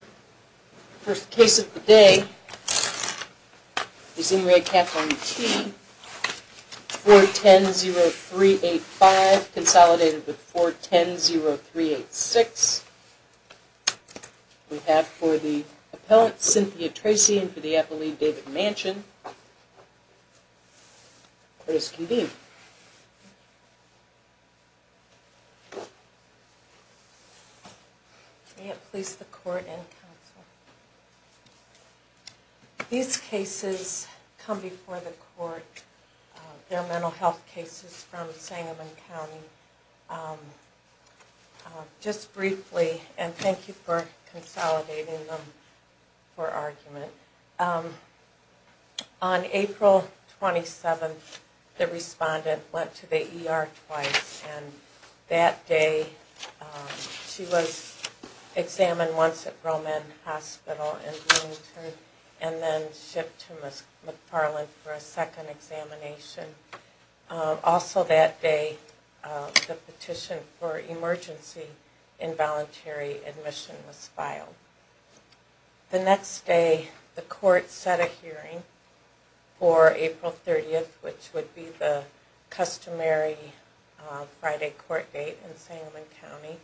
The first case of the day is in re Kathleen T. 410385 consolidated with 410386. We have for the appellant Cynthia Tracy and for the appellate David Manchin. Please continue. May it please the court and counsel. These cases come before the court. They're mental health cases from Sangamon County. Just briefly, and thank you for consolidating them for argument. On April 27th the respondent went to the ER twice and that day she was examined once at Roman Hospital in Bloomington and then shipped to McFarland for a second examination. Also that day the petition for emergency involuntary admission was filed. The next day the court set a hearing for April 30th which would be the customary Friday court date in Sangamon County.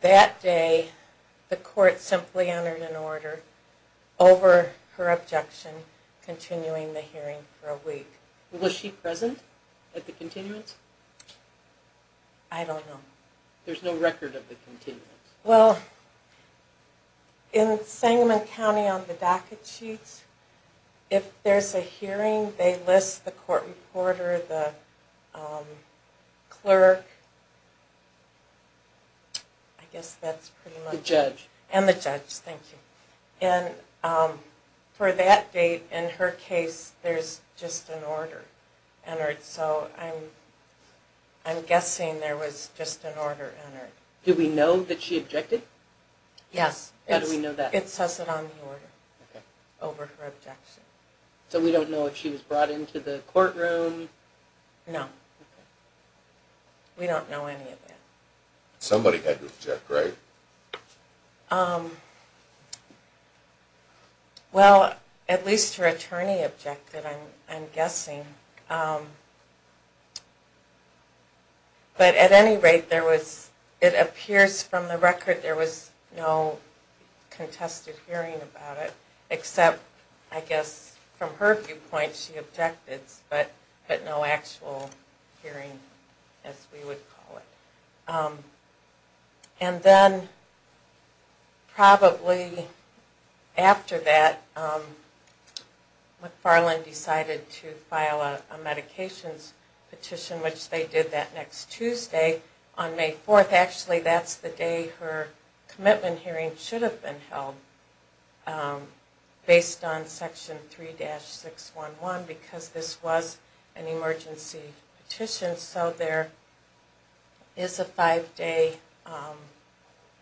That day the court simply entered an order over her objection continuing the hearing for a week. Was she present at the continuance? I don't know. There's no record of the continuance. Well, in Sangamon County on the docket sheets if there's a hearing they list the court reporter, the clerk, I guess that's pretty much it. The judge. And the judge, thank you. And for that date in her case there's just an order entered so I'm guessing there was just an order entered. Do we know that she objected? Yes. How do we know that? It says it on the order over her objection. So we don't know if she was brought into the courtroom? No. We don't know any of that. Somebody had to object, right? Well, at least her attorney objected I'm guessing. But at any rate it appears from the record there was no contested hearing about it except I guess from her viewpoint she objected but no actual hearing as we would call it. And then probably after that McFarland decided to file a medications petition which they did that next Tuesday on May 4th. Actually that's the day her commitment hearing should have been held based on section 3-611 because this was an emergency petition. So there is a five day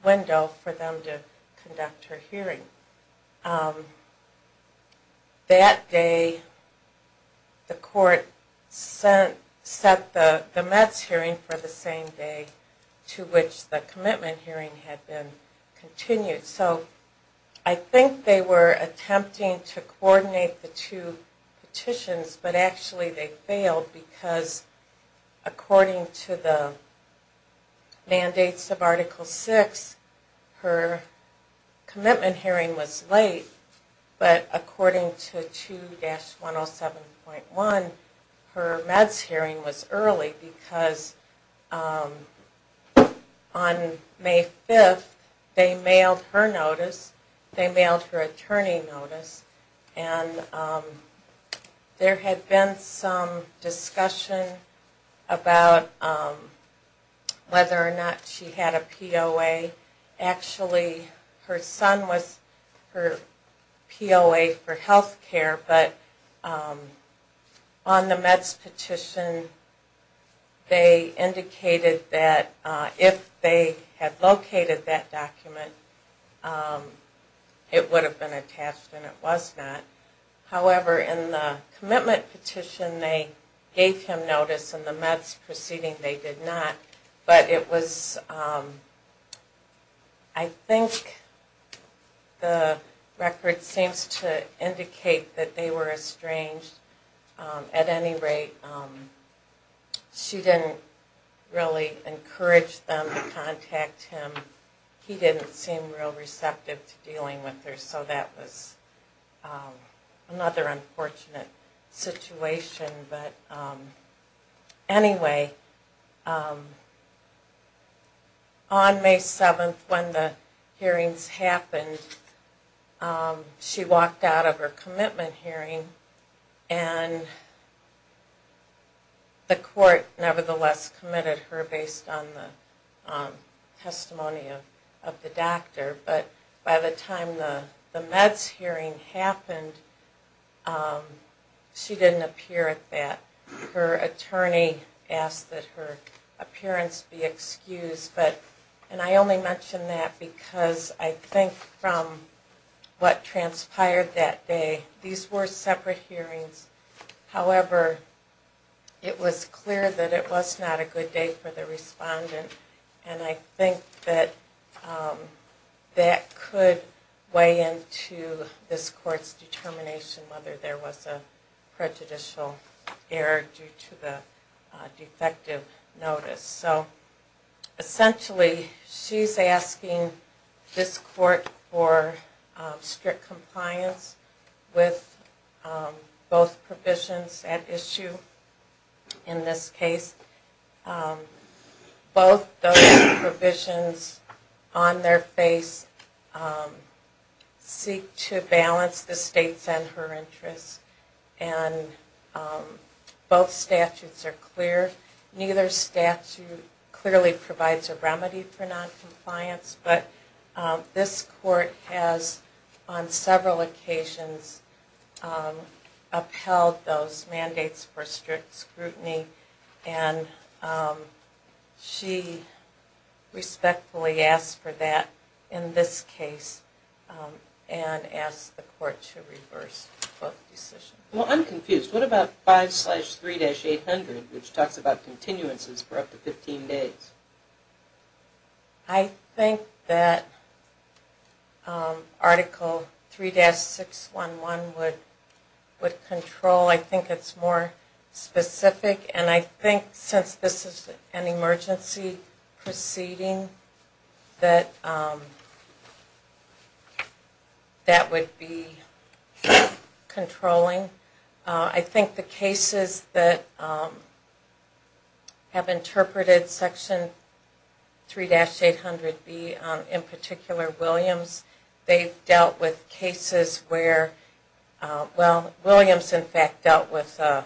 window for them to conduct her hearing. That day the court set the METS hearing for the same day to which the commitment hearing had been continued. So I think they were attempting to coordinate the two petitions but actually they failed because according to the mandates of article 6 her commitment hearing was late but according to 2-107.1 her METS hearing was early because on May 5th they mailed her notice, they mailed her attorney notice and there had been some discussion about whether or not she had a POA. Actually her son was her POA for healthcare but on the METS petition they indicated that if they had located that document it would have been attached and it was not. However in the commitment petition they gave him notice and the METS proceeding they did not but it was, I think the record seems to indicate that they were estranged at any rate. She didn't really encourage them to contact him. He didn't seem real receptive to dealing with her so that was another unfortunate situation but anyway on May 7th when the hearings happened she walked out of her commitment hearing and the court nevertheless committed her based on the testimony of the doctor but by the time the METS hearing happened she didn't appear at that. Her attorney asked that her appearance be excused and I only mention that because I think from what transpired that day, these were separate hearings, however it was clear that it was not a good day for the respondent and I think that that could weigh into this court's determination whether there was a prejudicial error. Due to the defective notice so essentially she's asking this court for strict compliance with both provisions at issue in this case. Both those provisions on their face seek to balance the state's and her interests and both statutes are clear. Neither statute clearly provides a remedy for noncompliance but this court has on several occasions upheld those mandates for strict scrutiny and she respectfully asked for that in this case and asked the court to reverse both decisions. Well I'm confused. What about 5-3-800 which talks about continuances for up to 15 days? I think that article 3-611 would control. I think it's more specific and I think since this is an emergency proceeding that that would be controlling. I think the cases that have interpreted section 3-800B, in particular Williams, they've dealt with cases where, well Williams in fact dealt with a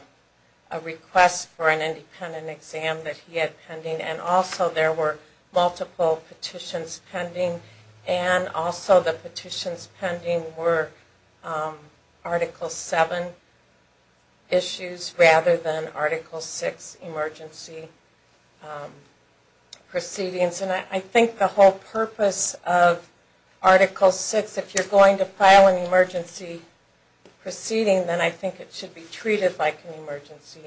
request for an independent exam that he had pending and also there were multiple petitions pending and also the petitions pending were articles 7, issues rather than article 6, emergency proceedings and I think the whole purpose of article 6, if you're going to file an emergency proceeding then I think it should be treated like an emergency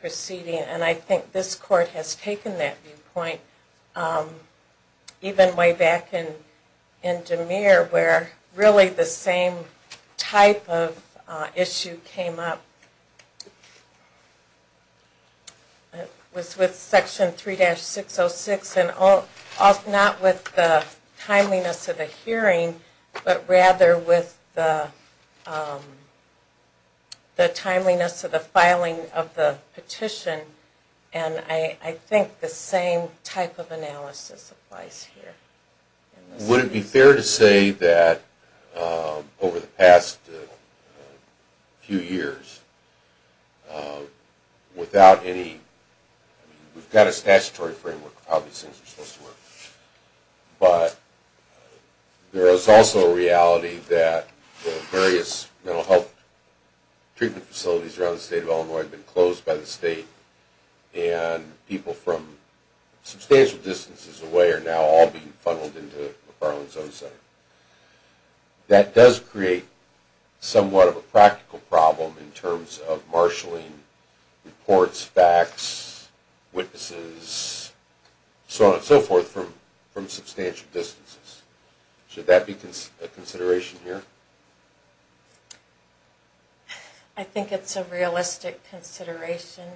proceeding and I think this court has taken that viewpoint. Even way back in DeMere where really the same type of issue came up with section 3-606 and not with the timeliness of the hearing but rather with the timeliness of the filing of the petition and I think the same type of analysis applies here. Would it be fair to say that over the past few years without any, we've got a statutory framework of how these things are supposed to work but there is also a reality that various mental health treatment facilities around the state of Illinois have been closed by the state and people from substantial distances away are now all being funneled into the state of Illinois. That does create somewhat of a practical problem in terms of marshalling reports, facts, witnesses, so on and so forth from substantial distances. Should that be a consideration here? I think it's a realistic consideration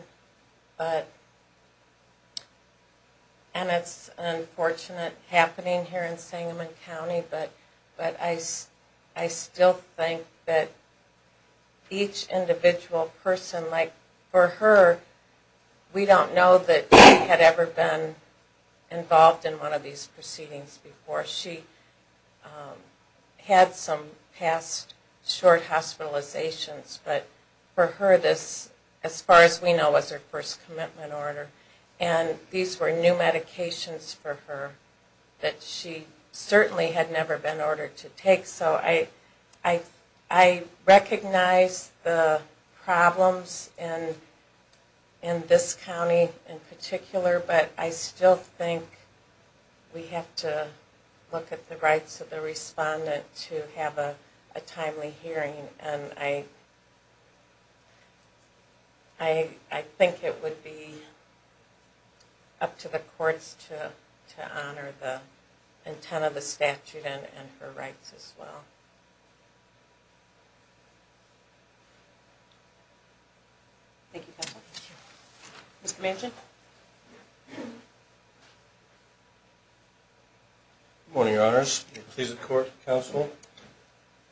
and it's unfortunate happening here in Sangamon County but I still think that each individual person, like for her, we don't know that she had ever been involved in one of these proceedings before. She had some past short hospitalizations but for her this, as far as we know, was her first commitment order and these were new medications for her that she certainly had never been ordered to take. So I recognize the problems in this county in particular but I still think we have to look at the rights of the respondent to have a timely hearing and I think it would be up to the courts to honor the intent of the statute and her rights as well. Thank you counsel. Thank you. Mr. Manchin. Good morning, Your Honors. I'm pleased to report to counsel.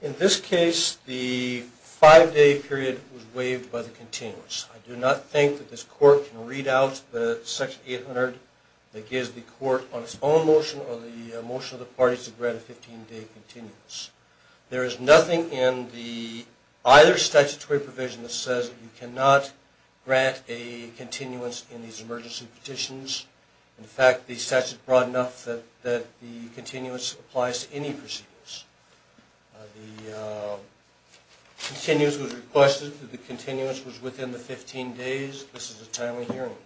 In this case, the five-day period was waived by the continuance. I do not think that this court can read out the section 800 that gives the court on its own motion or the motion of the parties to grant a 15-day continuance. There is nothing in either statutory provision that says you cannot grant a continuance in these emergency petitions. In fact, the statute is broad enough that the continuance applies to any proceedings. The continuance was requested. The continuance was within the 15 days. This is a timely hearing.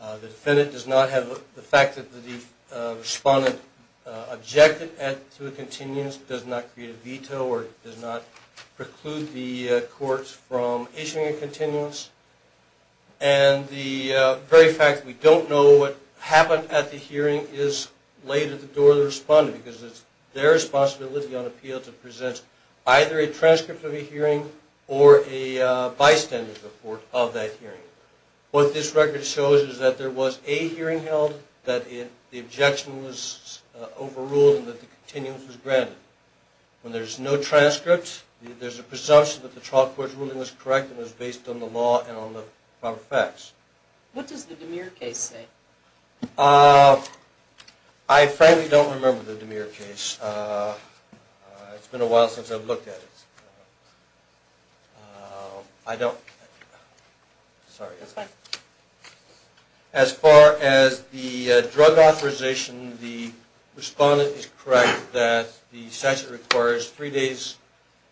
The defendant does not have the fact that the respondent objected to a continuance does not create a veto or does not preclude the courts from issuing a continuance. And the very fact that we don't know what happened at the hearing is laid at the door of the respondent because it's their responsibility on appeal to present either a transcript of a hearing or a bystander's report of that hearing. What this record shows is that there was a hearing held, that the objection was overruled, and that the continuance was granted. When there's no transcript, there's a presumption that the trial court's ruling was correct and was based on the law and on the facts. What does the DeMere case say? I frankly don't remember the DeMere case. It's been a while since I've looked at it. As far as the drug authorization, the respondent is correct that the statute requires three days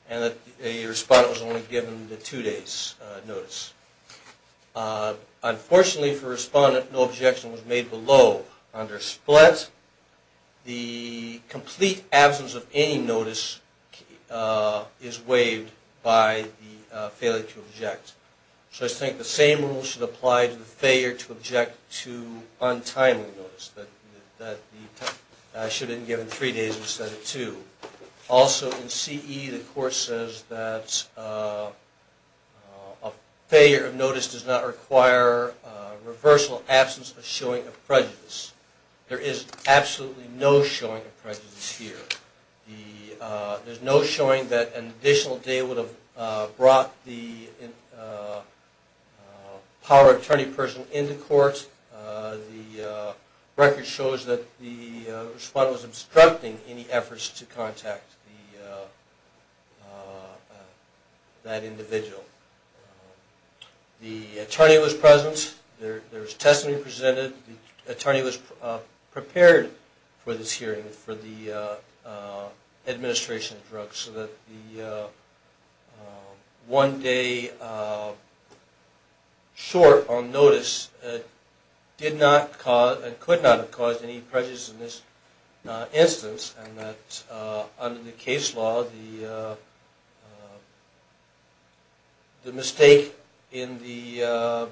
and that a respondent was only given the two days' notice. Unfortunately for the respondent, no objection was made below under split. But the complete absence of any notice is waived by the failure to object. So I think the same rule should apply to the failure to object to untimely notice. Also, in CE, the court says that a failure of notice does not require a reversal absence of showing of prejudice. There is absolutely no showing of prejudice here. There's no showing that an additional day would have brought the power of attorney person into court. The record shows that the respondent was obstructing any efforts to contact that individual. The attorney was present. There was testimony presented. The attorney was prepared for this hearing for the administration of drugs. So that the one day short on notice did not cause and could not have caused any prejudice in this instance. Under the case law, the mistake in the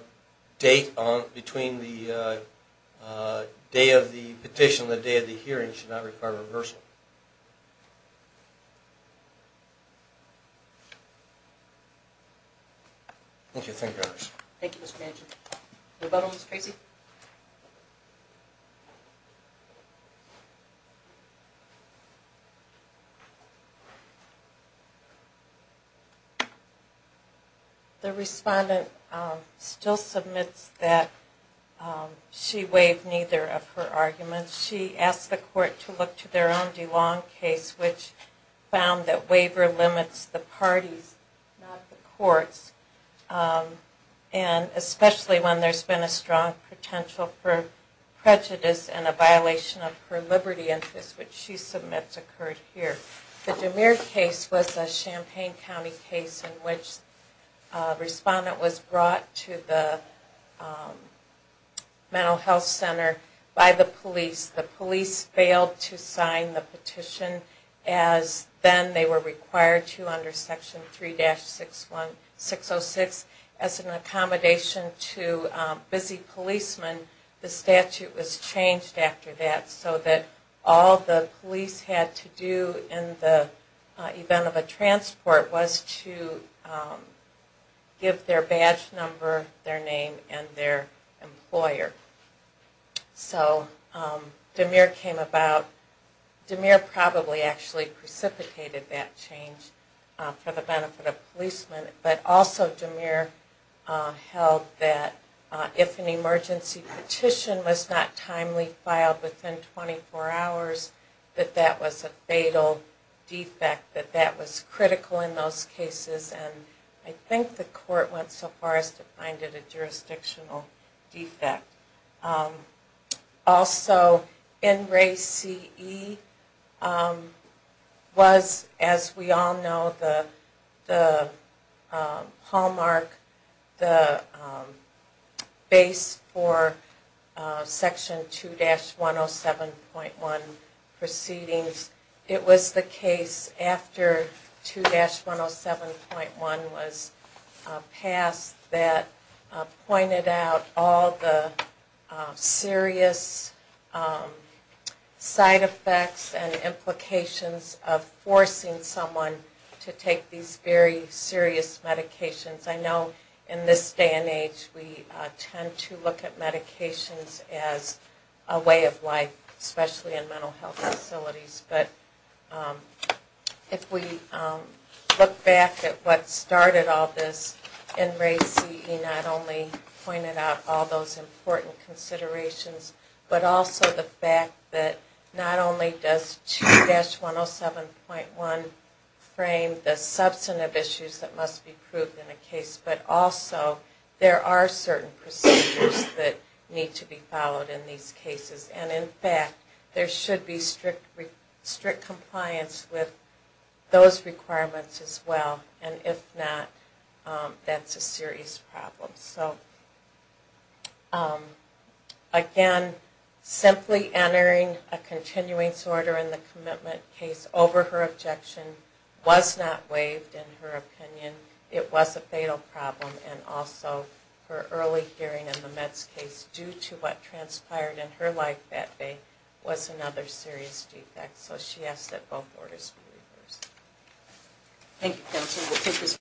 date between the day of the petition and the day of the hearing should not require reversal. Thank you. The respondent still submits that she waived neither of her arguments. She asked the court to look to their own DeLong case, which found that waiver limits the parties, not the courts. And especially when there's been a strong potential for prejudice and a violation of her liberty interest, which she submits occurred here. The DeMere case was a Champaign County case in which a respondent was brought to the mental health center by the police. The police failed to sign the petition as then they were required to under section 3-606. As an accommodation to busy policemen, the statute was changed after that so that all the participants that the police had to do in the event of a transport was to give their badge number, their name, and their employer. So DeMere came about, DeMere probably actually precipitated that change for the benefit of policemen, but also DeMere held that if an emergency petition was not timely filed within 24 hours, that that was a fatal defect, that that was critical in those cases, and I think the court went so far as to find it a jurisdictional defect. Also, NRACE was, as we all know, the hallmark, the base for section 2-107.1, it was the case after 2-107.1 was passed that pointed out all the serious side effects and implications of forcing someone to take these very serious medications. I know in this day and age we tend to look at medications as a way of life, especially in mental health. But if we look back at what started all this, NRACE not only pointed out all those important considerations, but also the fact that not only does 2-107.1 frame the substantive issues that must be proved in a case, but also there are certain procedures that need to be followed in these cases. And in fact, there should be strict compliance with those requirements as well. And if not, that's a serious problem. So again, simply entering a continuance order in the commitment case over her objection was not waived in her opinion. It was a fatal problem. And the fact that it was a serious defect was another serious defect. So she asked that both orders be waived.